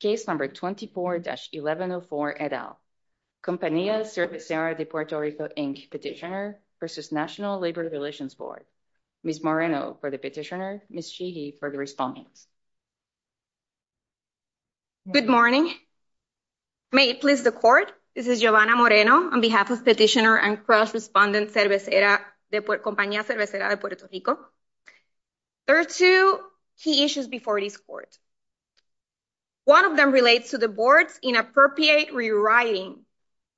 Case number 24-1104 et al. Compañía Cervecera de Puerto Rico, Inc. petitioner versus National Labor Relations Board. Ms. Moreno for the petitioner, Ms. Sheehy for the respondents. Good morning. May it please the court, this is Giovanna Moreno on behalf of petitioner and cross-respondent Cervecera de Puerto Rico. There are two key issues before this court. One of them relates to the board's inappropriate rewriting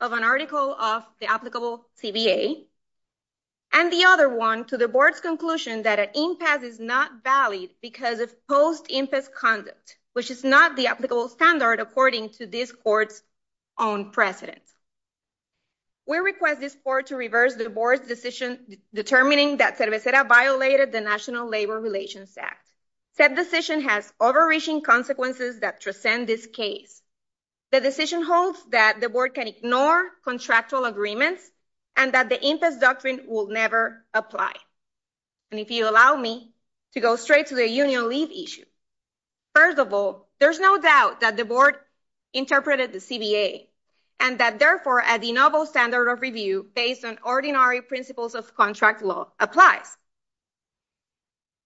of an article of the applicable CBA, and the other one to the board's conclusion that an impasse is not valid because of post-impasse conduct, which is not the applicable standard according to this court's own precedents. We request this court to reverse the board's decision determining that Cervecera violated the National Labor Relations Act. Said decision has overreaching consequences that transcend this case. The decision holds that the board can ignore contractual agreements and that the impasse doctrine will never apply. And if you allow me to go straight to the union leave issue. First of all, there's no doubt that the board interpreted the CBA and that therefore at the novel standard of review based on ordinary principles of contract law applies.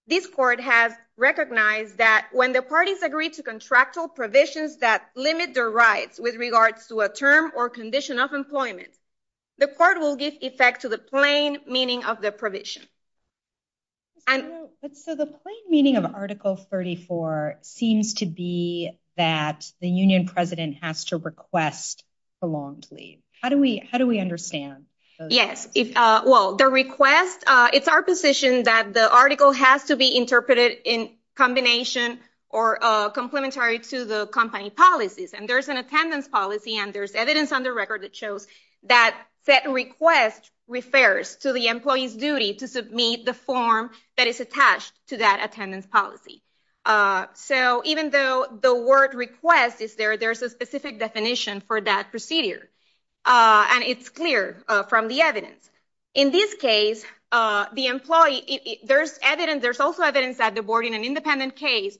This court has recognized that when the parties agree to contractual provisions that limit their rights with regards to a term or condition of employment, the court will give effect to the plain meaning of the provision. But so the plain meaning of Article 34 seems to be that the union president has to request prolonged leave. How do we understand those? Yes, well, the request, it's our position that the article has to be interpreted in combination or complimentary to the company policies. And there's an attendance policy and there's evidence on the record that shows that set request refers to the employee's duty to submit the form that is attached to that attendance policy. So even though the word request is there, there's a specific definition for that procedure. And it's clear from the evidence. In this case, the employee, there's evidence, there's also evidence that the board in an independent case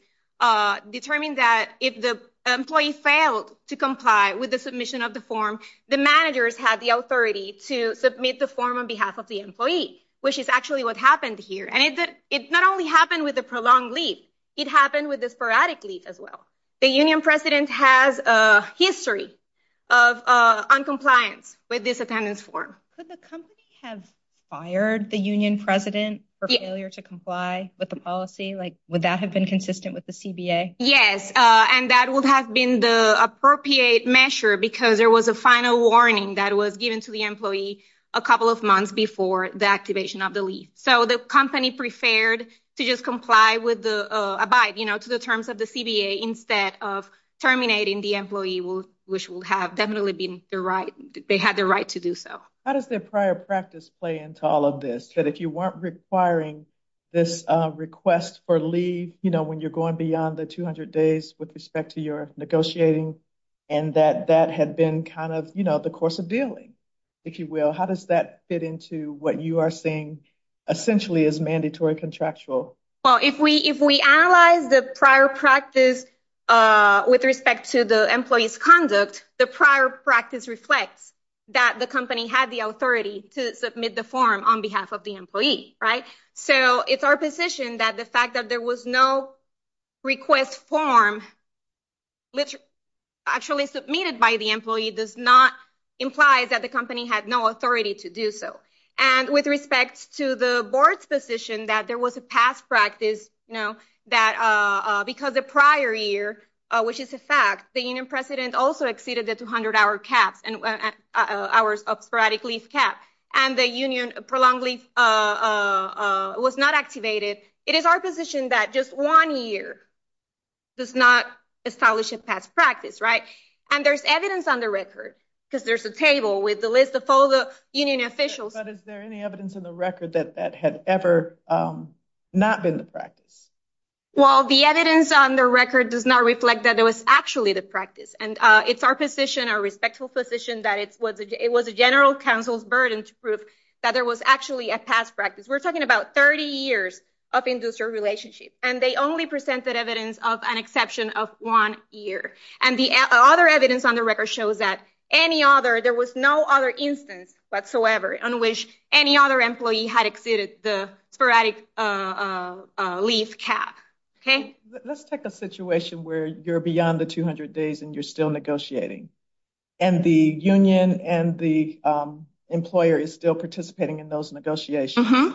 determined that if the employee failed to comply with the submission of the form, the managers had the authority to submit the form on behalf of the employee, which is actually what happened here. And it not only happened with the prolonged leave, it happened with the sporadic leave as well. The union president has a history of uncompliance with this attendance form. Could the company have fired the union president for failure to comply with the policy? Like, would that have been consistent with the CBA? Yes, and that would have been the appropriate measure because there was a final warning that was given to the employee a couple of months before the activation of the leave. So the company preferred to just comply with the, abide to the terms of the CBA instead of terminating the employee, which will have definitely been the right, they had the right to do so. How does their prior practice play into all of this? That if you weren't requiring this request for leave, you know, when you're going beyond the 200 days with respect to your negotiating and that that had been kind of, you know, the course of dealing, if you will, how does that fit into what you are saying essentially is mandatory contractual? Well, if we analyze the prior practice with respect to the employee's conduct, the prior practice reflects that the company had the authority to submit the form on behalf of the employee, right? So it's our position that the fact that there was no request form which actually submitted by the employee does not imply that the company had no authority to do so. And with respect to the board's position that there was a past practice, you know, that because the prior year, which is a fact, the union president also exceeded the 200-hour caps and hours of sporadic leave cap and the union prolonged leave was not activated. It is our position that just one year does not establish a past practice, right? And there's evidence on the record because there's a table with the list of all the union officials. But is there any evidence in the record that that had ever not been the practice? Well, the evidence on the record does not reflect that it was actually the practice. And it's our position, our respectful position that it was a general counsel's burden to prove that there was actually a past practice. We're talking about 30 years of industrial relationship and they only presented evidence of an exception of one year. And the other evidence on the record shows that any other, there was no other instance whatsoever on which any other employee had exceeded the sporadic leave cap, okay? Let's take a situation where you're beyond the 200 days and you're still negotiating and the union and the employer is still participating in those negotiations.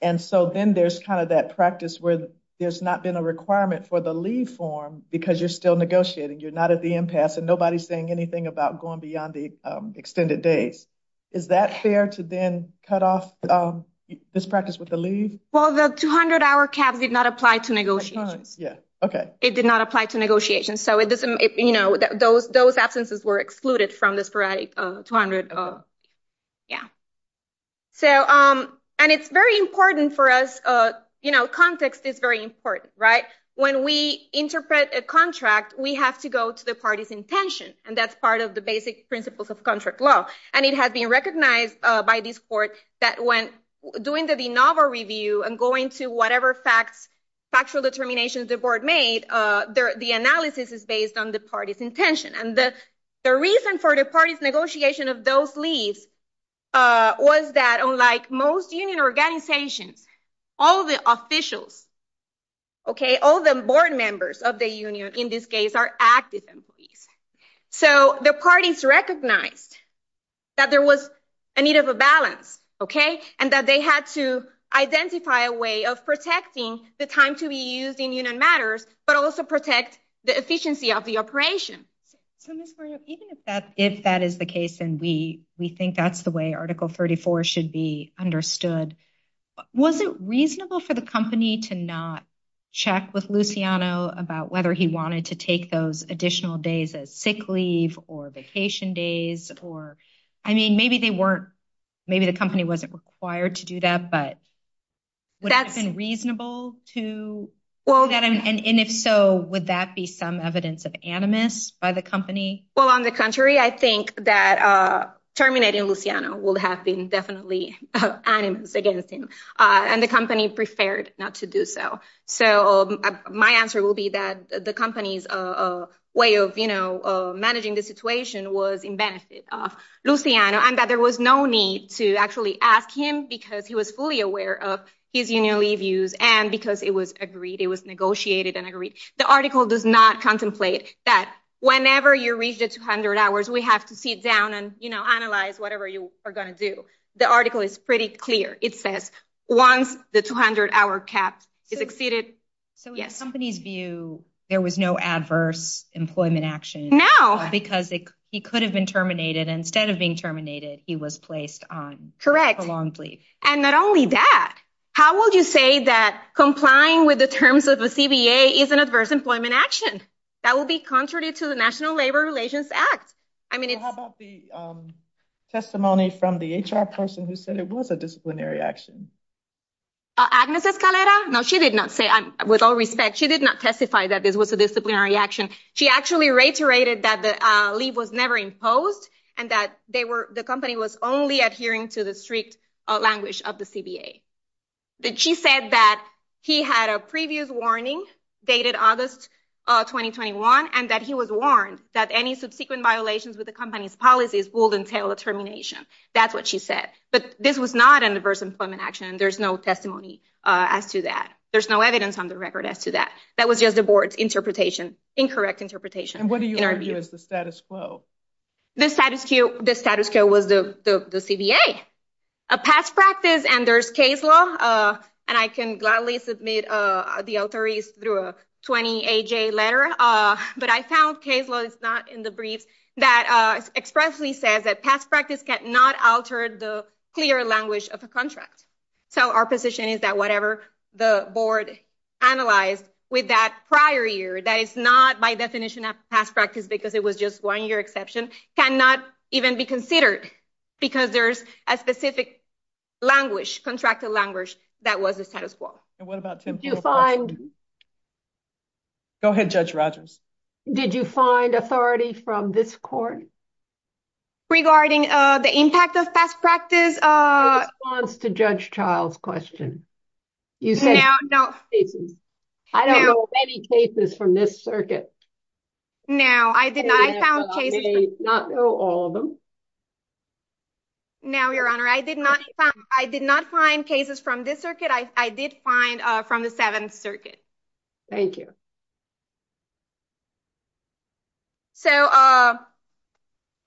And so then there's kind of that practice where there's not been a requirement for the leave form because you're still negotiating, you're not at the impasse and nobody's saying anything about going beyond the extended days. Is that fair to then cut off this practice with the leave? Well, the 200 hour caps did not apply to negotiations. Yeah, okay. It did not apply to negotiations. So it doesn't, you know, those absences were excluded from the sporadic 200, yeah. So, and it's very important for us, you know, context is very important, right? When we interpret a contract, we have to go to the party's intention and that's part of the basic principles of contract law. And it has been recognized by this court that when doing the de novo review and going to whatever facts, factual determinations the board made, the analysis is based on the party's intention. And the reason for the party's negotiation of those leaves was that unlike most union organizations, all the officials, okay, all the board members of the union in this case are active employees. So the parties recognized that there was a need of a balance, okay? And that they had to identify a way of protecting the time to be used in union matters, but also protect the efficiency of the operation. So Ms. Mario, even if that is the case, and we think that's the way article 34 should be understood, was it reasonable for the company to not check with Luciano about whether he wanted to take those additional days as sick leave or vacation days? Or, I mean, maybe they weren't, maybe the company wasn't required to do that, but would it have been reasonable to? Well, and if so, would that be some evidence of animus by the company? Well, on the contrary, I think that terminating Luciano will have been definitely animus against him and the company preferred not to do so. So my answer will be that the company's way of, managing the situation was in benefit of Luciano and that there was no need to actually ask him because he was fully aware of his union leave use and because it was agreed, it was negotiated and agreed. The article does not contemplate that whenever you reach the 200 hours, we have to sit down and analyze whatever you are gonna do. The article is pretty clear. It says once the 200 hour cap is exceeded, yes. So in the company's view, there was no adverse employment action because he could have been terminated and instead of being terminated, he was placed on prolonged leave. And not only that, how would you say that complying with the terms of the CBA is an adverse employment action? That will be contrary to the National Labor Relations Act. I mean, it's- How about the testimony from the HR person who said it was a disciplinary action? Agnes Escalera? No, she did not say, with all respect, she did not testify that this was a disciplinary action. She actually reiterated that the leave was never imposed and that the company was only adhering to the strict language of the CBA. That she said that he had a previous warning dated August 2021 and that he was warned that any subsequent violations with the company's policies will entail a termination. That's what she said. But this was not an adverse employment action and there's no testimony as to that. There's no evidence on the record as to that. That was just the board's interpretation, incorrect interpretation. And what do you argue is the status quo? The status quo was the CBA. A past practice and there's case law, and I can gladly submit the authorities through a 20-AJ letter, but I found case law, it's not in the briefs, that expressly says that past practice cannot alter the clear language of a contract. So our position is that whatever the board analyzed with that prior year, that it's not by definition of past practice because it was just one year exception, cannot even be considered because there's a specific language, contracted language that was the status quo. And what about Tim? Do you find- Go ahead, Judge Rogers. Did you find authority from this court? Regarding the impact of past practice? In response to Judge Child's question, you said- No, no. I don't know any cases from this circuit. No, I did not find cases- Not know all of them. No, Your Honor, I did not find cases from this circuit. I did find from the Seventh Circuit. Thank you. So,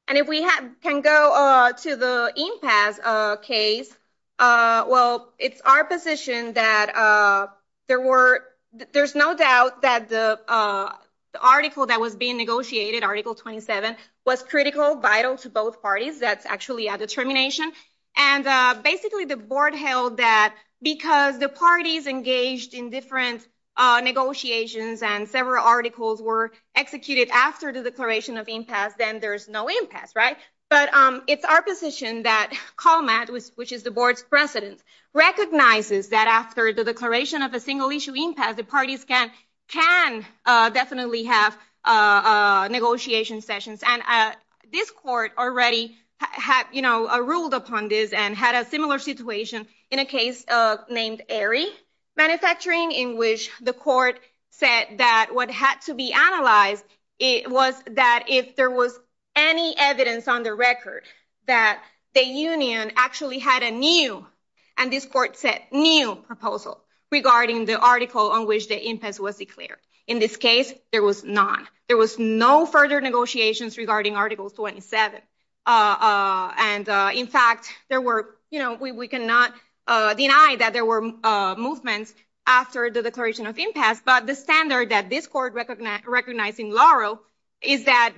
and if we can go to the impasse, case, well, it's our position that there were, there's no doubt that the article that was being negotiated, Article 27, was critical, vital to both parties. That's actually a determination. And basically the board held that because the parties engaged in different negotiations and several articles were executed after the declaration of impasse, then there's no impasse, right? But it's our position that Colmatt, which is the board's president, recognizes that after the declaration of a single-issue impasse, the parties can definitely have negotiation sessions. And this court already had, you know, ruled upon this and had a similar situation in a case named Aerie Manufacturing in which the court said that what had to be analyzed was that if there was any evidence on the record that the union actually had a new, and this court said new proposal regarding the article on which the impasse was declared. In this case, there was none. There was no further negotiations regarding Article 27. And in fact, there were, you know, we cannot deny that there were movements after the declaration of impasse, but the standard that this court recognized in Laurel is that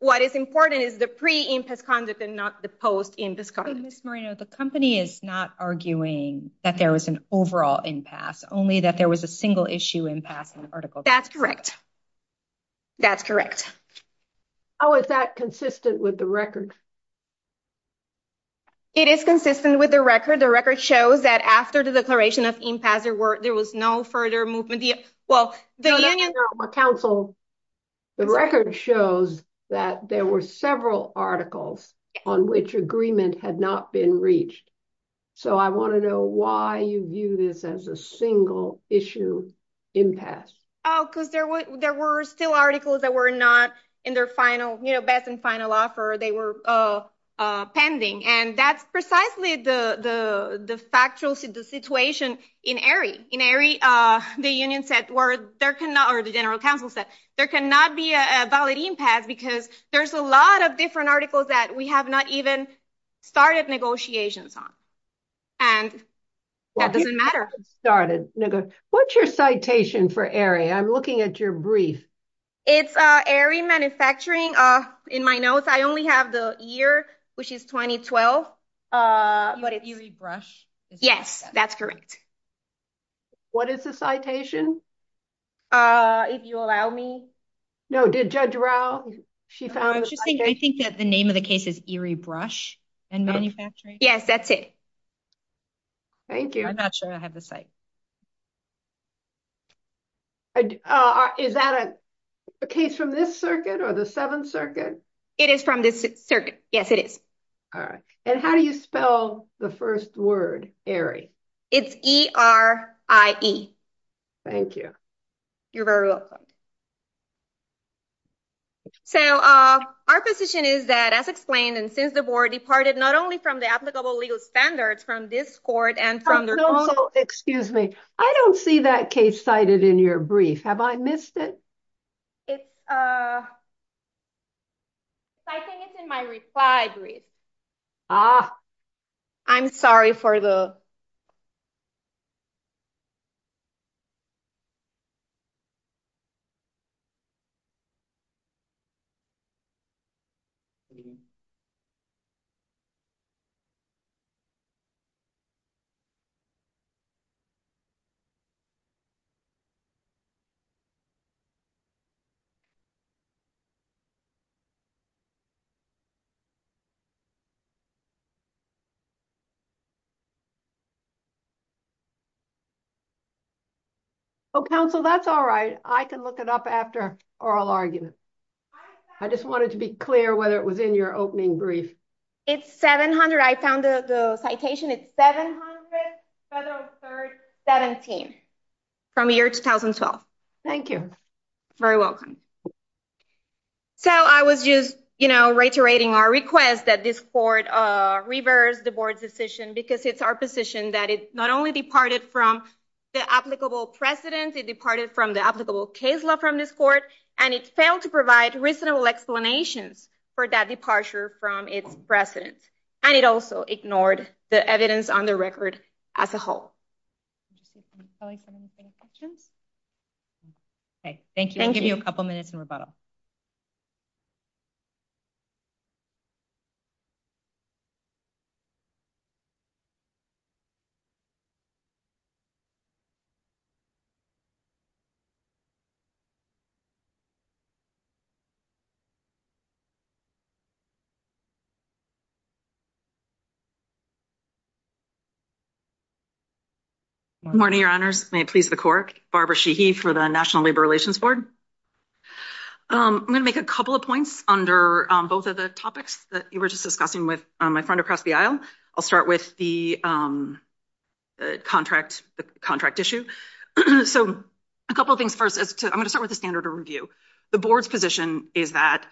what is important is the pre-impasse conduct and not the post-impasse conduct. Ms. Moreno, the company is not arguing that there was an overall impasse, only that there was a single-issue impasse in the article. That's correct. That's correct. Oh, is that consistent with the record? It is consistent with the record. The record shows that after the declaration of impasse, there was no further movement. Well, the union- Counsel, the record shows that there were several articles on which agreement had not been reached. So I want to know why you view this as a single-issue impasse. Oh, because there were still articles that were not in their final, you know, best and final offer. They were pending. And that's precisely the factual situation in Erie. The union said, or the general counsel said, there cannot be a valid impasse because there's a lot of different articles that we have not even started negotiations on. And that doesn't matter. Started negotiations. What's your citation for Erie? I'm looking at your brief. It's Erie Manufacturing. In my notes, I only have the year, which is 2012. You read Brush? Yes, that's correct. What is the citation? If you allow me. No, did Judge Rao, she found the citation? I think that the name of the case is Erie Brush and Manufacturing. Yes, that's it. Thank you. I'm not sure I have the site. Is that a case from this circuit or the Seventh Circuit? It is from this circuit. Yes, it is. All right. And how do you spell the first word, Erie? It's E-R-I-E. Thank you. You're very welcome. So our position is that as explained and since the board departed not only from the applicable legal standards from this court and from their own- Excuse me. I don't see that case cited in your brief. Have I missed it? It's, I think it's in my reply brief. Ah. I'm sorry for the... Oh, counsel, that's all right. I can look it up after oral argument. I just wanted to be clear whether it was in your opening brief. It's 700, I found the citation. It's 700 Federal Third 17 from year 2012. Thank you. You're very welcome. So I was just, you know, reiterating our request that this court reverse the sentence and reverse the board's decision because it's our position that it not only departed from the applicable precedent, it departed from the applicable case law from this court and it failed to provide reasonable explanations for that departure from its precedent. And it also ignored the evidence on the record as a whole. Okay, thank you. I'll give you a couple minutes in rebuttal. Good morning, your honors. May it please the court, Barbara Sheehy for the National Labor Relations Board. I'm gonna make a couple of points under both of the topics that you were just discussing with my friend across the aisle. I'll start with the contract issue. So a couple of things first. I'm gonna start with the standard of review. The board's position is that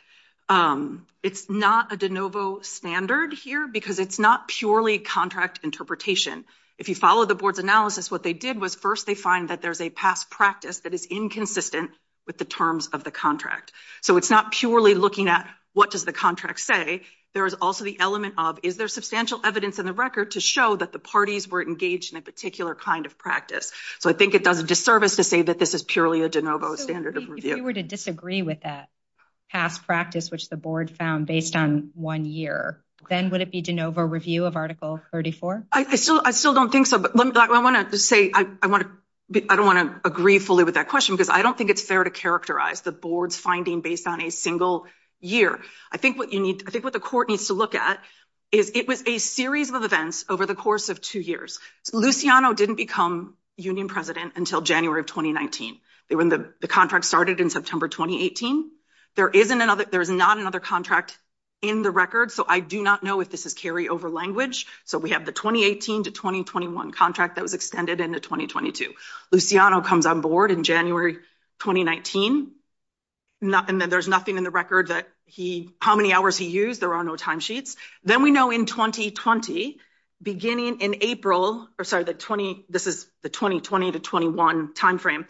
it's not a de novo standard here because it's not purely contract interpretation. If you follow the board's analysis, what they did was first they find that there's a past practice that is inconsistent with the terms of the contract. So it's not purely looking at what does the contract say? There is also the element of, is there substantial evidence in the record to show that the parties weren't engaged in a particular kind of practice? So I think it does a disservice to say that this is purely a de novo standard of review. If you were to disagree with that past practice, which the board found based on one year, then would it be de novo review of Article 34? I still don't think so. But I wanna say, I don't wanna agree fully with that question, because I don't think it's fair to characterize the board's finding based on a single year. I think what you need, I think what the court needs to look at is it was a series of events over the course of two years. Luciano didn't become union president until January of 2019. They were in the contract started in September, 2018. There isn't another, there's not another contract in the record. So I do not know if this is carry over language. So we have the 2018 to 2021 contract that was extended into 2022. Luciano comes on board in January, 2019. And then there's nothing in the record that he, how many hours he used. There are no timesheets. Then we know in 2020, beginning in April, or sorry, the 20, this is the 2020 to 21 timeframe.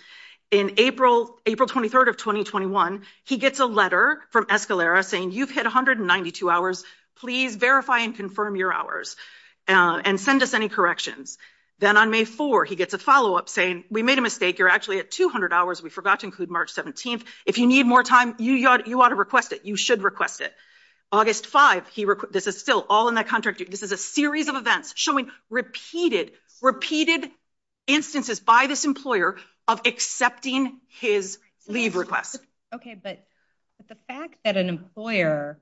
In April, April 23rd of 2021, he gets a letter from Escalera saying, you've hit 192 hours. Please verify and confirm your hours and send us any corrections. Then on May 4, he gets a follow up saying, we made a mistake. You're actually at 200 hours. We forgot to include March 17th. If you need more time, you ought to request it. You should request it. August 5, he, this is still all in that contract. This is a series of events showing repeated, repeated instances by this employer of accepting his leave requests. Okay, but the fact that an employer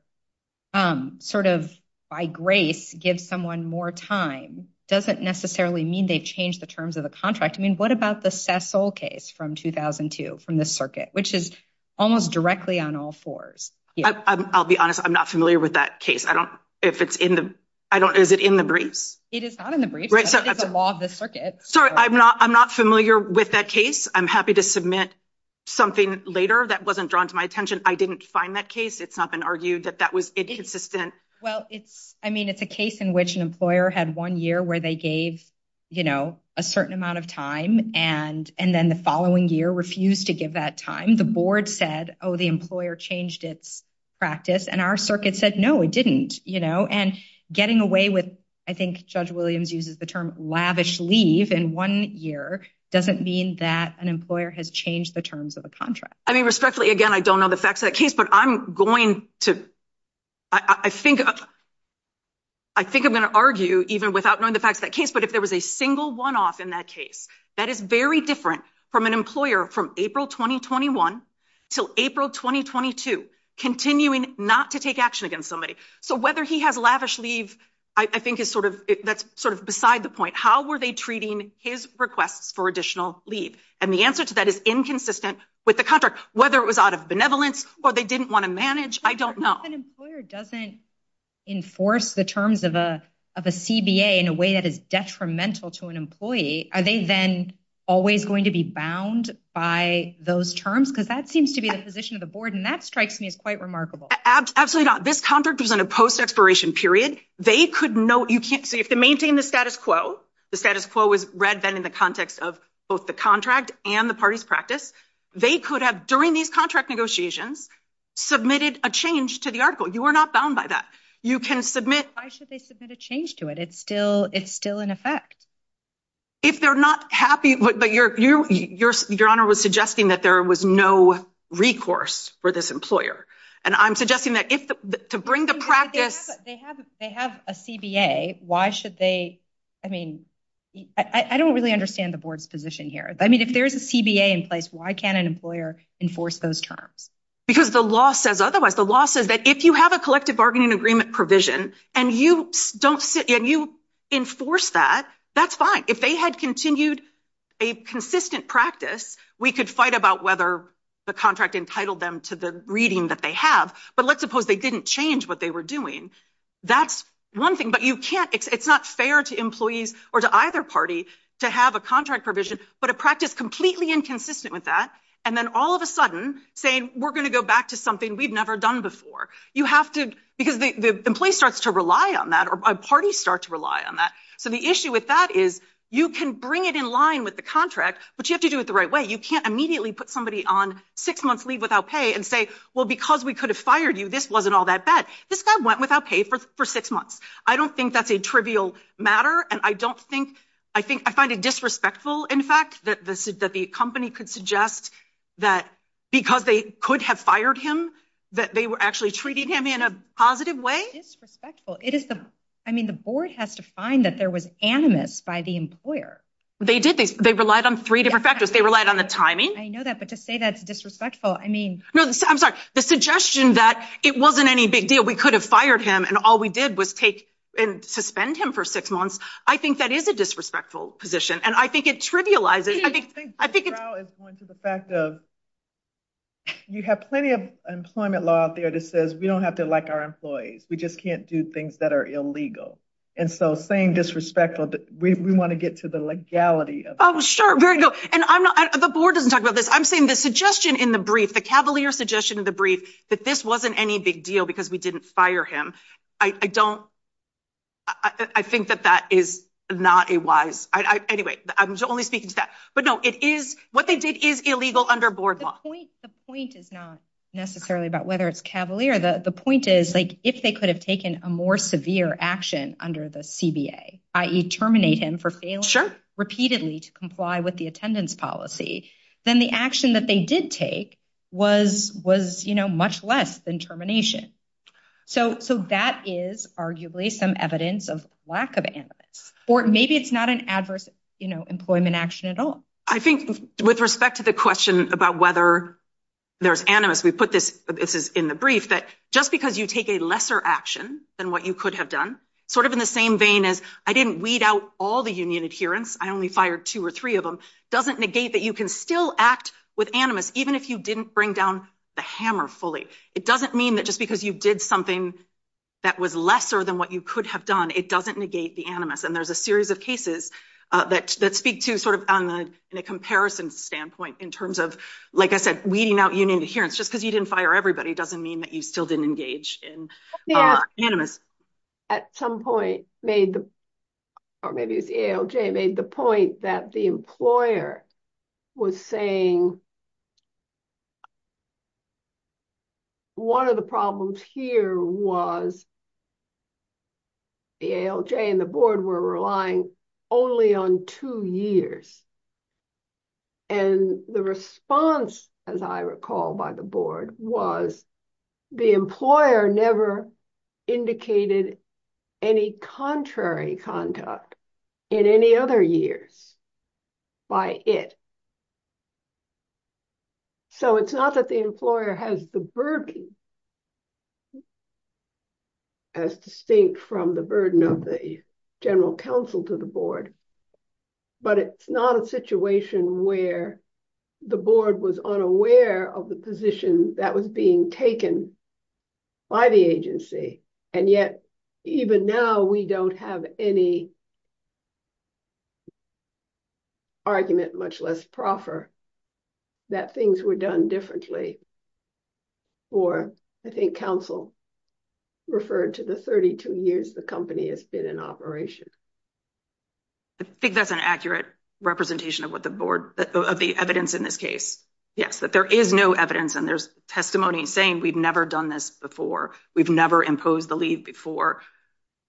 sort of by grace gives someone more time doesn't necessarily mean they've changed the terms of the contract. I mean, what about the Cecil case from 2002 from this circuit, which is almost directly on all fours? I'll be honest. I'm not familiar with that case. I don't, if it's in the, I don't, is it in the briefs? It is not in the briefs, but it is a law of the circuit. Sorry, I'm not, I'm not familiar with that case. I'm happy to submit something later that wasn't drawn to my attention. I didn't find that case. It's not been argued that that was inconsistent. Well, it's, I mean, it's a case in which an employer had one year where they gave, you know, a certain amount of time and then the following year refused to give that time. The board said, oh, the employer changed its practice and our circuit said, no, it didn't, you know, and getting away with, I think Judge Williams uses the term lavish leave in one year doesn't mean that an employer has changed the terms of the contract. I mean, respectfully, again, I don't know the facts of that case, but I'm going to, I think, I think I'm gonna argue even without knowing the facts of that case, but if there was a single one-off in that case, that is very different from an employer from April, 2021 till April, 2022, continuing not to take action against somebody. So whether he has lavish leave, I think is sort of, that's sort of beside the point. How were they treating his requests for additional leave? And the answer to that is inconsistent with the contract, whether it was out of benevolence or they didn't want to manage, I don't know. If an employer doesn't enforce the terms of a CBA in a way that is detrimental to an employee, are they then always going to be bound by those terms? Because that seems to be the position of the board and that strikes me as quite remarkable. Absolutely not. This contract was in a post-expiration period. They could know, you can't, so you have to maintain the status quo. The status quo was read then in the context of both the contract and the party's practice. They could have, during these contract negotiations, submitted a change to the article. You are not bound by that. You can submit- Why should they submit a change to it? It's still in effect. If they're not happy, but your honor was suggesting that there was no recourse for this employer. And I'm suggesting that to bring the practice- They have a CBA, why should they, I mean, I don't really understand the board's position here. I mean, if there's a CBA in place, why can't an employer enforce those terms? Because the law says otherwise. The law says that if you have a collective bargaining agreement provision and you enforce that, that's fine. If they had continued a consistent practice, we could fight about whether the contract entitled them to the reading that they have, but let's suppose they didn't change what they were doing. That's one thing, but you can't, it's not fair to employees or to either party to have a contract provision, but a practice completely inconsistent with that. And then all of a sudden saying, we're gonna go back to something we've never done before. You have to, because the employee starts to rely on that or parties start to rely on that. So the issue with that is, you can bring it in line with the contract, but you have to do it the right way. You can't immediately put somebody on six months leave without pay and say, well, because we could have fired you, this wasn't all that bad. This guy went without pay for six months. I don't think that's a trivial matter. And I don't think, I think I find it disrespectful, in fact, that the company could suggest that because they could have fired him, that they were actually treating him in a positive way. It's disrespectful. It is the, I mean, the board has to find that there was animus by the employer. They did, they relied on three different factors. They relied on the timing. I know that, but to say that's disrespectful, I mean. No, I'm sorry. The suggestion that it wasn't any big deal. We could have fired him and all we did was take and suspend him for six months. I think that is a disrespectful position. And I think it trivializes. I think it's- I think the trial is going to the fact of, you have plenty of employment law out there that says, we don't have to like our employees. We just can't do things that are illegal. And so saying disrespectful, we want to get to the legality of- Oh, sure, very good. And I'm not, the board doesn't talk about this. I'm saying the suggestion in the brief, the Cavalier suggestion in the brief, that this wasn't any big deal because we didn't fire him. I don't, I think that that is not a wise, anyway, I'm only speaking to that. But no, it is, what they did is illegal under board law. The point is not necessarily about whether it's Cavalier. The point is like, if they could have taken a more severe action under the CBA, i.e. terminate him for failing repeatedly to comply with the attendance policy, then the action that they did take was much less than termination. So that is arguably some evidence of lack of animus. Or maybe it's not an adverse employment action at all. I think with respect to the question about whether there's animus, we put this, this is in the brief, that just because you take a lesser action than what you could have done, sort of in the same vein as, I didn't weed out all the union adherents, I only fired two or three of them, doesn't negate that you can still act with animus even if you didn't bring down the hammer fully. It doesn't mean that just because you did something that was lesser than what you could have done, it doesn't negate the animus. And there's a series of cases that speak to sort of in a comparison standpoint in terms of, like I said, weeding out union adherence. Just because you didn't fire everybody doesn't mean that you still didn't engage in animus. At some point made the, or maybe it was the ALJ made the point that the employer was saying one of the problems here was the ALJ and the board were relying only on two years. And the response, as I recall by the board, was the employer never indicated any contrary contact in any other years by it. So it's not that the employer has the burden as distinct from the burden of the general counsel to the board, but it's not a situation where the board was unaware of the position that was being taken by the agency. And yet even now we don't have any argument much less proffer that things were done differently or I think counsel referred to the 32 years the company has been in operation. I think that's an accurate representation of what the board, of the evidence in this case. Yes, that there is no evidence and there's testimony saying we've never done this before. We've never imposed the leave before.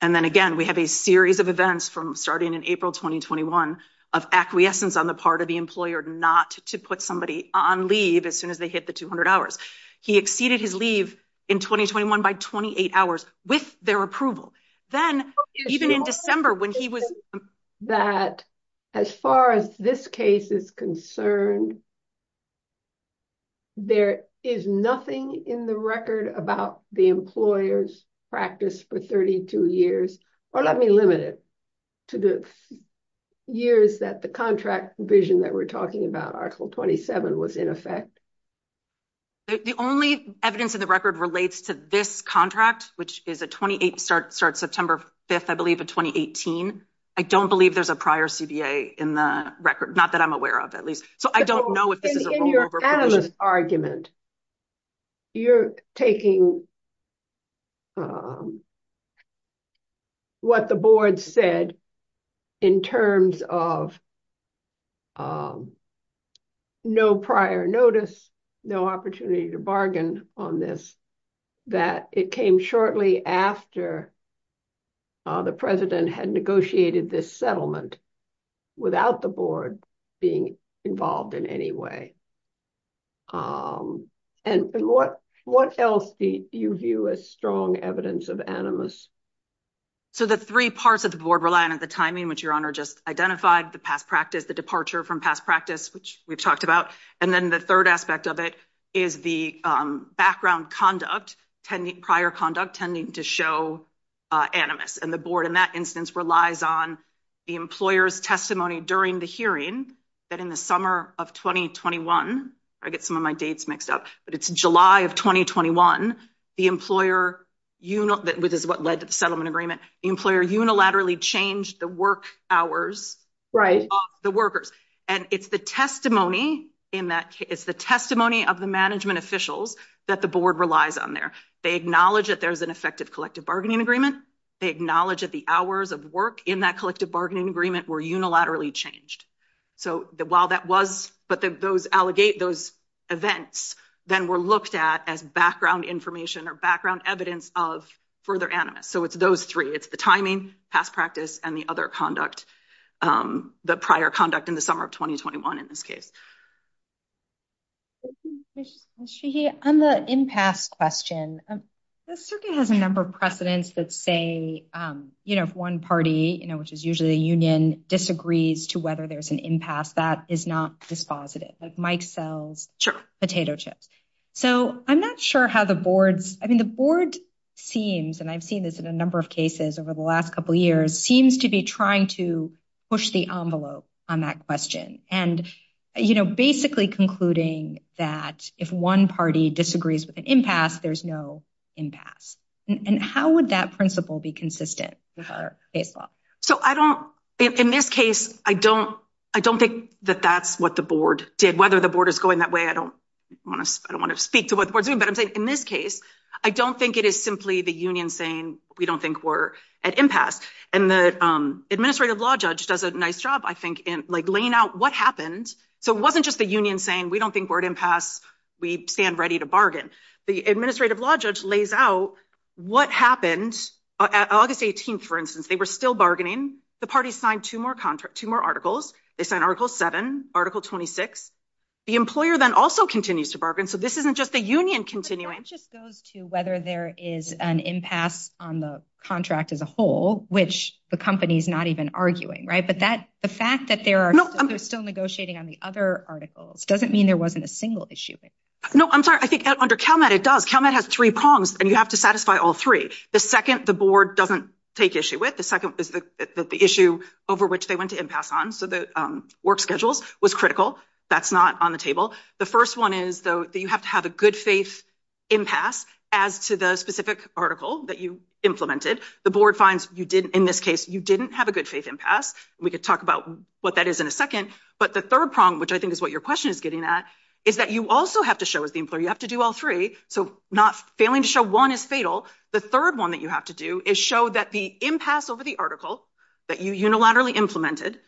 And then again, we have a series of events from starting in April, 2021 of acquiescence on the part of the employer not to put somebody on leave as soon as they hit the 200 hours. He exceeded his leave in 2021 by 28 hours with their approval. Then even in December when he was- As far as this case is concerned, there is nothing in the record about the employer's practice for 32 years or let me limit it to the years that the contract vision that we're talking about article 27 was in effect. The only evidence in the record relates to this contract which is a 28 start September 5th, I believe a 2018. I don't believe there's a prior CBA in the record. Not that I'm aware of at least. So I don't know if this is a rollover- In your analyst argument, you're taking what the board said in terms of no prior notice, no opportunity to bargain on this that it came shortly after the president had negotiated this settlement without the board being involved in any way. And what else do you view as strong evidence of animus? So the three parts of the board rely on the timing which your honor just identified, the past practice, the departure from past practice which we've talked about. And then the third aspect of it is the background conduct, prior conduct, tending to show animus. And the board in that instance relies on the employer's testimony during the hearing that in the summer of 2021, I get some of my dates mixed up, but it's July of 2021, the employer, which is what led to the settlement agreement, the employer unilaterally changed the work hours of the workers. And it's the testimony of the management officials that the board relies on there. They acknowledge that there's an effective collective bargaining agreement. They acknowledge that the hours of work in that collective bargaining agreement were unilaterally changed. So while that was, but those events then were looked at as background information or background evidence of further animus. So it's those three, it's the timing, past practice and the other conduct, the prior conduct in the summer of 2021 in this case. On the impasse question, the circuit has a number of precedents that say, if one party, which is usually the union disagrees to whether there's an impasse that is not dispositive, like Mike sells potato chips. So I'm not sure how the boards, I mean, the board seems, and I've seen this in a number of cases over the last couple of years, seems to be trying to push the envelope on that question. And basically concluding that if one party disagrees with an impasse, there's no impasse. And how would that principle be consistent with our case law? So I don't, in this case, I don't think that that's what the board did. Whether the board is going that way, I don't wanna speak to what the board's doing, but I'm saying in this case, I don't think it is simply the union saying, we don't think we're at impasse. And the administrative law judge does a nice job, I think, in laying out what happened. So it wasn't just the union saying, we don't think we're at impasse, we stand ready to bargain. The administrative law judge lays out what happened. At August 18th, for instance, they were still bargaining. The party signed two more articles. They signed Article 7, Article 26. The employer then also continues to bargain. So this isn't just the union continuing. But that just goes to whether there is an impasse on the contract as a whole, which the company's not even arguing, right? The fact that they're still negotiating on the other articles doesn't mean there wasn't a single issue. No, I'm sorry, I think under CalMet, it does. CalMet has three prongs, and you have to satisfy all three. The second, the board doesn't take issue with. The second is that the issue over which they went to impasse on, so the work schedules, was critical. That's not on the table. The first one is, though, that you have to have a good faith impasse as to the specific article that you implemented. The board finds, in this case, you didn't have a good faith impasse. We could talk about what that is in a second. But the third prong, which I think is what your question is getting at, is that you also have to show as the employer, you have to do all three. So not failing to show one is fatal. The third one that you have to do is show that the impasse over the article that you unilaterally implemented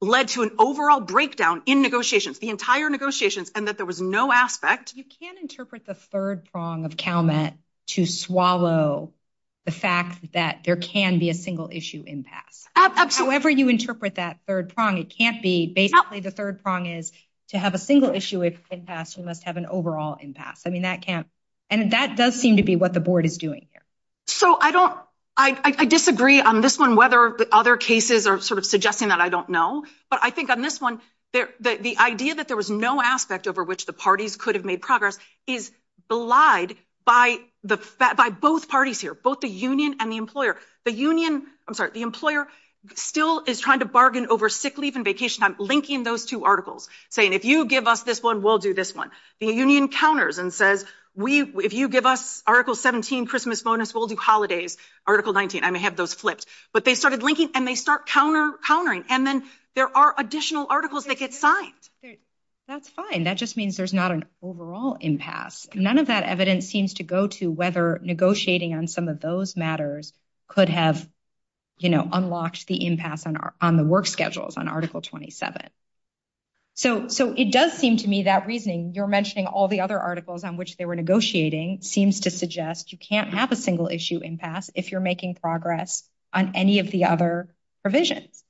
led to an overall breakdown in negotiations, the entire negotiations, and that there was no aspect. You can't interpret the third prong of CalMet to swallow the fact that there can be a single issue impasse. However you interpret that third prong, it can't be basically the third prong is to have a single issue impasse, you must have an overall impasse. I mean, that can't, and that does seem to be what the board is doing here. So I don't, I disagree on this one, whether the other cases are sort of suggesting that I don't know. But I think on this one, the idea that there was no aspect over which the parties could have made progress is belied by both parties here, both the union and the employer. The union, I'm sorry, the employer still is trying to bargain over sick leave and vacation time, linking those two articles, saying if you give us this one, we'll do this one. The union counters and says, if you give us article 17, Christmas bonus, we'll do holidays, article 19. I may have those flipped. But they started linking and they start countering. And then there are additional articles that get signed. That's fine. That just means there's not an overall impasse. None of that evidence seems to go to whether negotiating on some of those matters could have unlocked the impasse on the work schedules on article 27. So it does seem to me that reasoning, you're mentioning all the other articles on which they were negotiating seems to suggest you can't have a single issue impasse if you're making progress on any of the other provisions.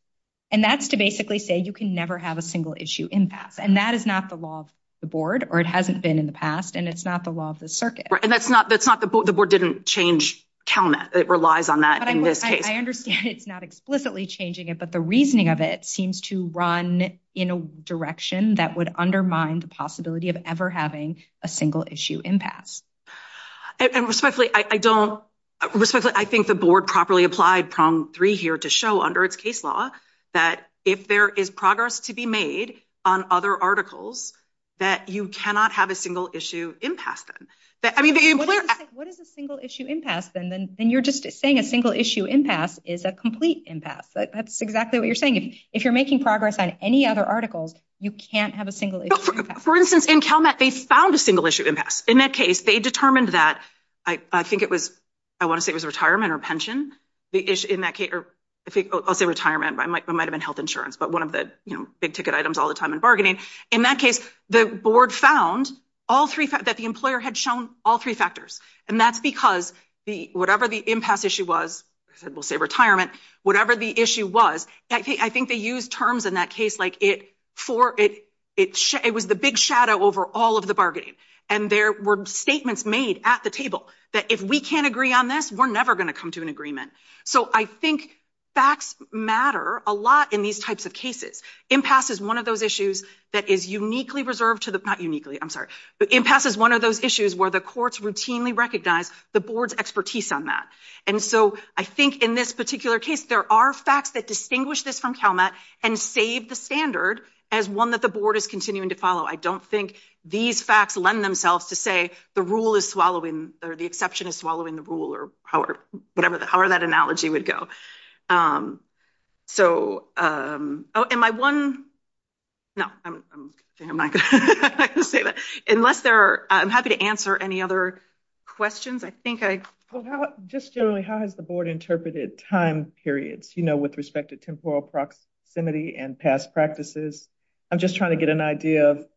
And that's to basically say you can never have a single issue impasse. And that is not the law of the board or it hasn't been in the past and it's not the law of the circuit. And that's not, the board didn't change CalNet. It relies on that in this case. I understand it's not explicitly changing it, but the reasoning of it seems to run in a direction that would undermine the possibility of ever having a single issue impasse. And respectfully, I don't, respectfully, I think the board properly applied prong three here to show under its case law that if there is progress to be made on other articles that you cannot have a single issue impasse then. What is a single issue impasse then? Then you're just saying a single issue impasse is a complete impasse. That's exactly what you're saying. If you're making progress on any other articles, you can't have a single issue impasse. For instance, in CalNet, they found a single issue impasse. In that case, they determined that, I think it was, I want to say it was retirement or pension, the issue in that case, or I'll say retirement, but it might've been health insurance, but one of the big ticket items all the time in bargaining. In that case, the board found all three, that the employer had shown all three factors. And that's because whatever the impasse issue was, we'll say retirement, whatever the issue was, I think they used terms in that case, like it was the big shadow over all of the bargaining. And there were statements made at the table that if we can't agree on this, we're never going to come to an agreement. So I think facts matter a lot in these types of cases. Impasse is one of those issues that is uniquely reserved to the, not uniquely, I'm sorry, impasse is one of those issues where the courts routinely recognize the board's expertise on that. And so I think in this particular case, there are facts that distinguish this from CalMet and save the standard as one that the board is continuing to follow. I don't think these facts lend themselves to say the rule is swallowing, or the exception is swallowing the rule, or however that analogy would go. So am I one? No, I'm not going to say that. Unless there are, I'm happy to answer any other questions. I think I- Just generally, how has the board interpreted time periods, you know, with respect to temporal proximity and past practices? I'm just trying to get an idea of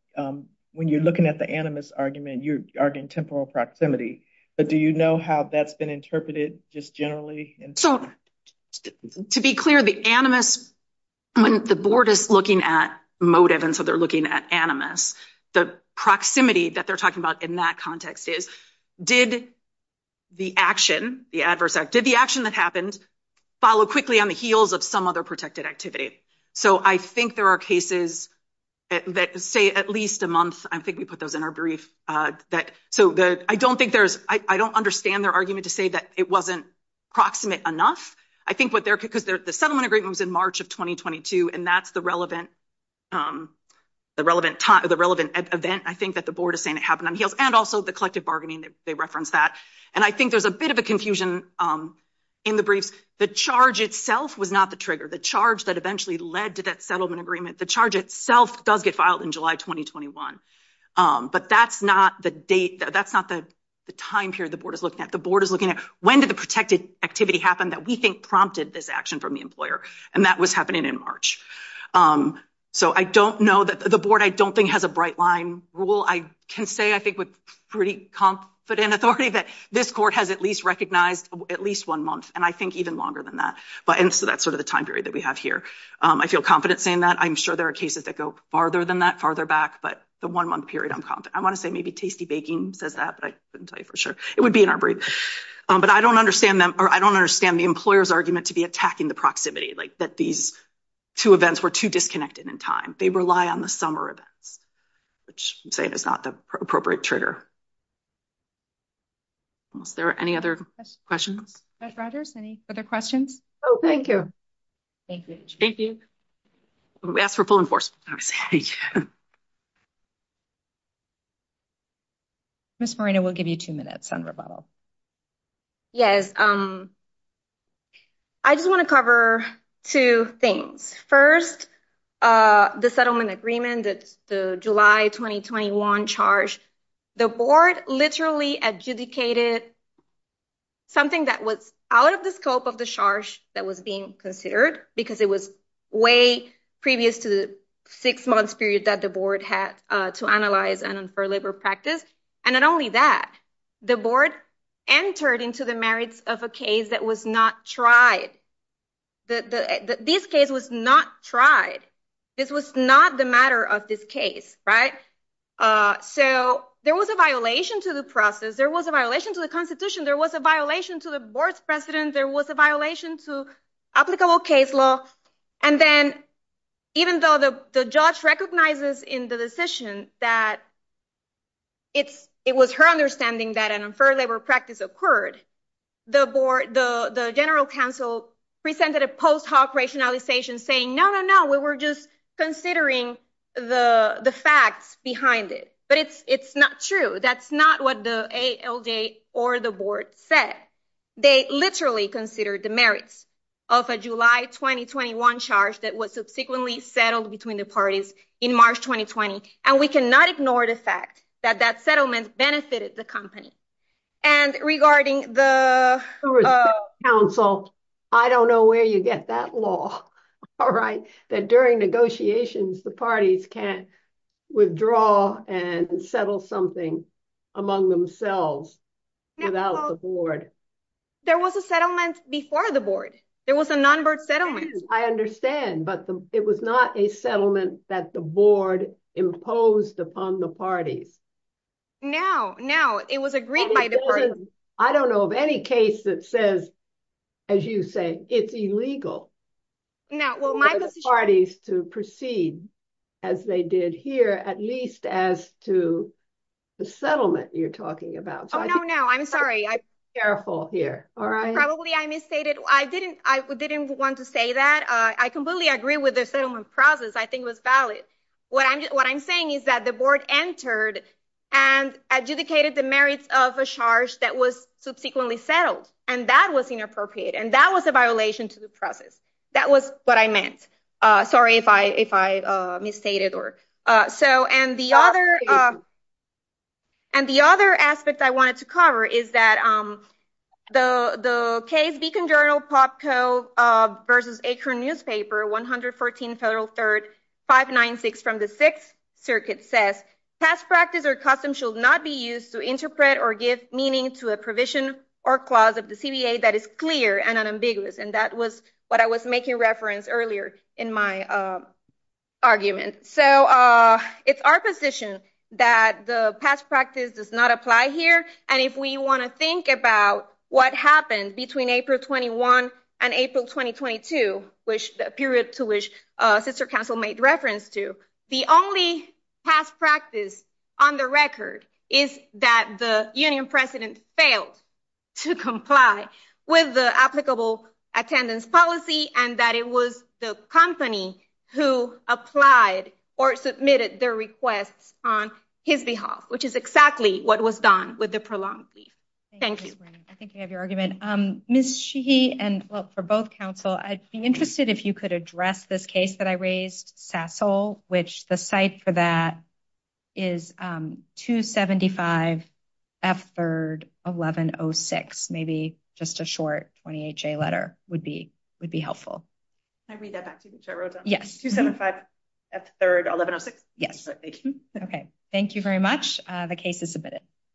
when you're looking at the animus argument, you're arguing temporal proximity, but do you know how that's been interpreted just generally? So to be clear, the animus, when the board is looking at motive, and so they're looking at animus, the proximity that they're talking about in that context is, did the action, the adverse act, did the action that happened follow quickly on the heels of some other protected activity? So I think there are cases that say at least a month, I think we put those in our brief, so I don't think there's, I don't understand their argument to say that it wasn't proximate enough. I think what they're, because the settlement agreement was in March of 2022, and that's the relevant event, I think, that the board is saying it happened on heels, and also the collective bargaining, they referenced that, and I think there's a bit of a confusion in the briefs. The charge itself was not the trigger. The charge that eventually led to that settlement agreement, the charge itself does get filed in July, 2021, but that's not the date, that's not the time period the board is looking at. The board is looking at, when did the protected activity happen that we think prompted this action from the employer? And that was happening in March. So I don't know that, the board, I don't think, has a bright line rule. I can say, I think, with pretty confident authority that this court has at least recognized at least one month, and I think even longer than that. But, and so that's sort of the time period that we have here. I feel confident saying that. I'm sure there are cases that go farther than that, farther back, but the one month period, I'm confident. I wanna say maybe Tasty Baking says that, but I couldn't tell you for sure. It would be in our brief. But I don't understand them, or I don't understand the employer's argument to be attacking the proximity, like that these two events were too disconnected in time. They rely on the summer events, which I'm saying is not the appropriate trigger. Unless there are any other questions. Judge Rogers, any other questions? Oh, thank you. Thank you, Judge. Thank you. We asked for full enforcement, obviously. Ms. Moreno, we'll give you two minutes on rebuttal. Yes. I just wanna cover two things. First, the settlement agreement, the July 2021 charge. The board literally adjudicated something that was out of the scope of the charge that was being considered, because it was way previous to the six-month period that the board had to analyze and infer labor practice. And not only that, the board entered into the merits of a case that was not tried. This case was not tried. This was not the matter of this case, right? So there was a violation to the process. There was a violation to the Constitution. There was a violation to the board's precedent. There was a violation to applicable case law. And then even though the judge recognizes in the decision that it was her understanding that an unfair labor practice occurred, the board, the general counsel presented a post hoc rationalization saying, no, no, no, we were just considering the facts behind it. But it's not true. That's not what the ALJ or the board said. They literally considered the merits of a July 2021 charge that was subsequently settled between the parties in March, 2020. And we cannot ignore the fact that that settlement benefited the company. And regarding the- Who was the counsel? I don't know where you get that law, all right? That during negotiations, the parties can't withdraw and settle something among themselves without the board. There was a settlement before the board. There was a non-board settlement. I understand, but it was not a settlement that the board imposed upon the parties. No, no, it was agreed by the parties. I don't know of any case that says, as you say, it's illegal for the parties to proceed as they did here, at least as to the settlement you're talking about. Oh, no, no, I'm sorry. Be careful here, all right? Probably I misstated. I didn't want to say that. I completely agree with the settlement process. I think it was valid. What I'm saying is that the board entered and adjudicated the merits of a charge that was subsequently settled, and that was inappropriate, and that was a violation to the process. That was what I meant. Sorry if I misstated. And the other aspect I wanted to cover is that the case Beacon Journal-POPCO versus Akron Newspaper, 114 Federal 3rd, 596 from the Sixth Circuit says, past practice or custom should not be used to interpret or give meaning to a provision or clause of the CBA that is clear and unambiguous, and that was what I was making reference earlier in my argument. So it's our position that the past practice does not apply here, and if we want to think about what happened between April 21 and April 2022, which the period to which sister counsel made reference to, the only past practice on the record is that the union president failed to comply with the applicable attendance policy and that it was the company who applied or submitted their requests on his behalf, which is exactly what was done with the prolonged leave. Thank you. I think I have your argument. Ms. Sheehy and, well, for both counsel, I'd be interested if you could address this case that I raised, Sasol, which the site for that is 275 F 3rd, 1106. Maybe just a short 28-J letter would be helpful. I read that back to you, which I wrote down. Yes. 275 F 3rd, 1106. Yes. Okay, thank you very much. The case is submitted.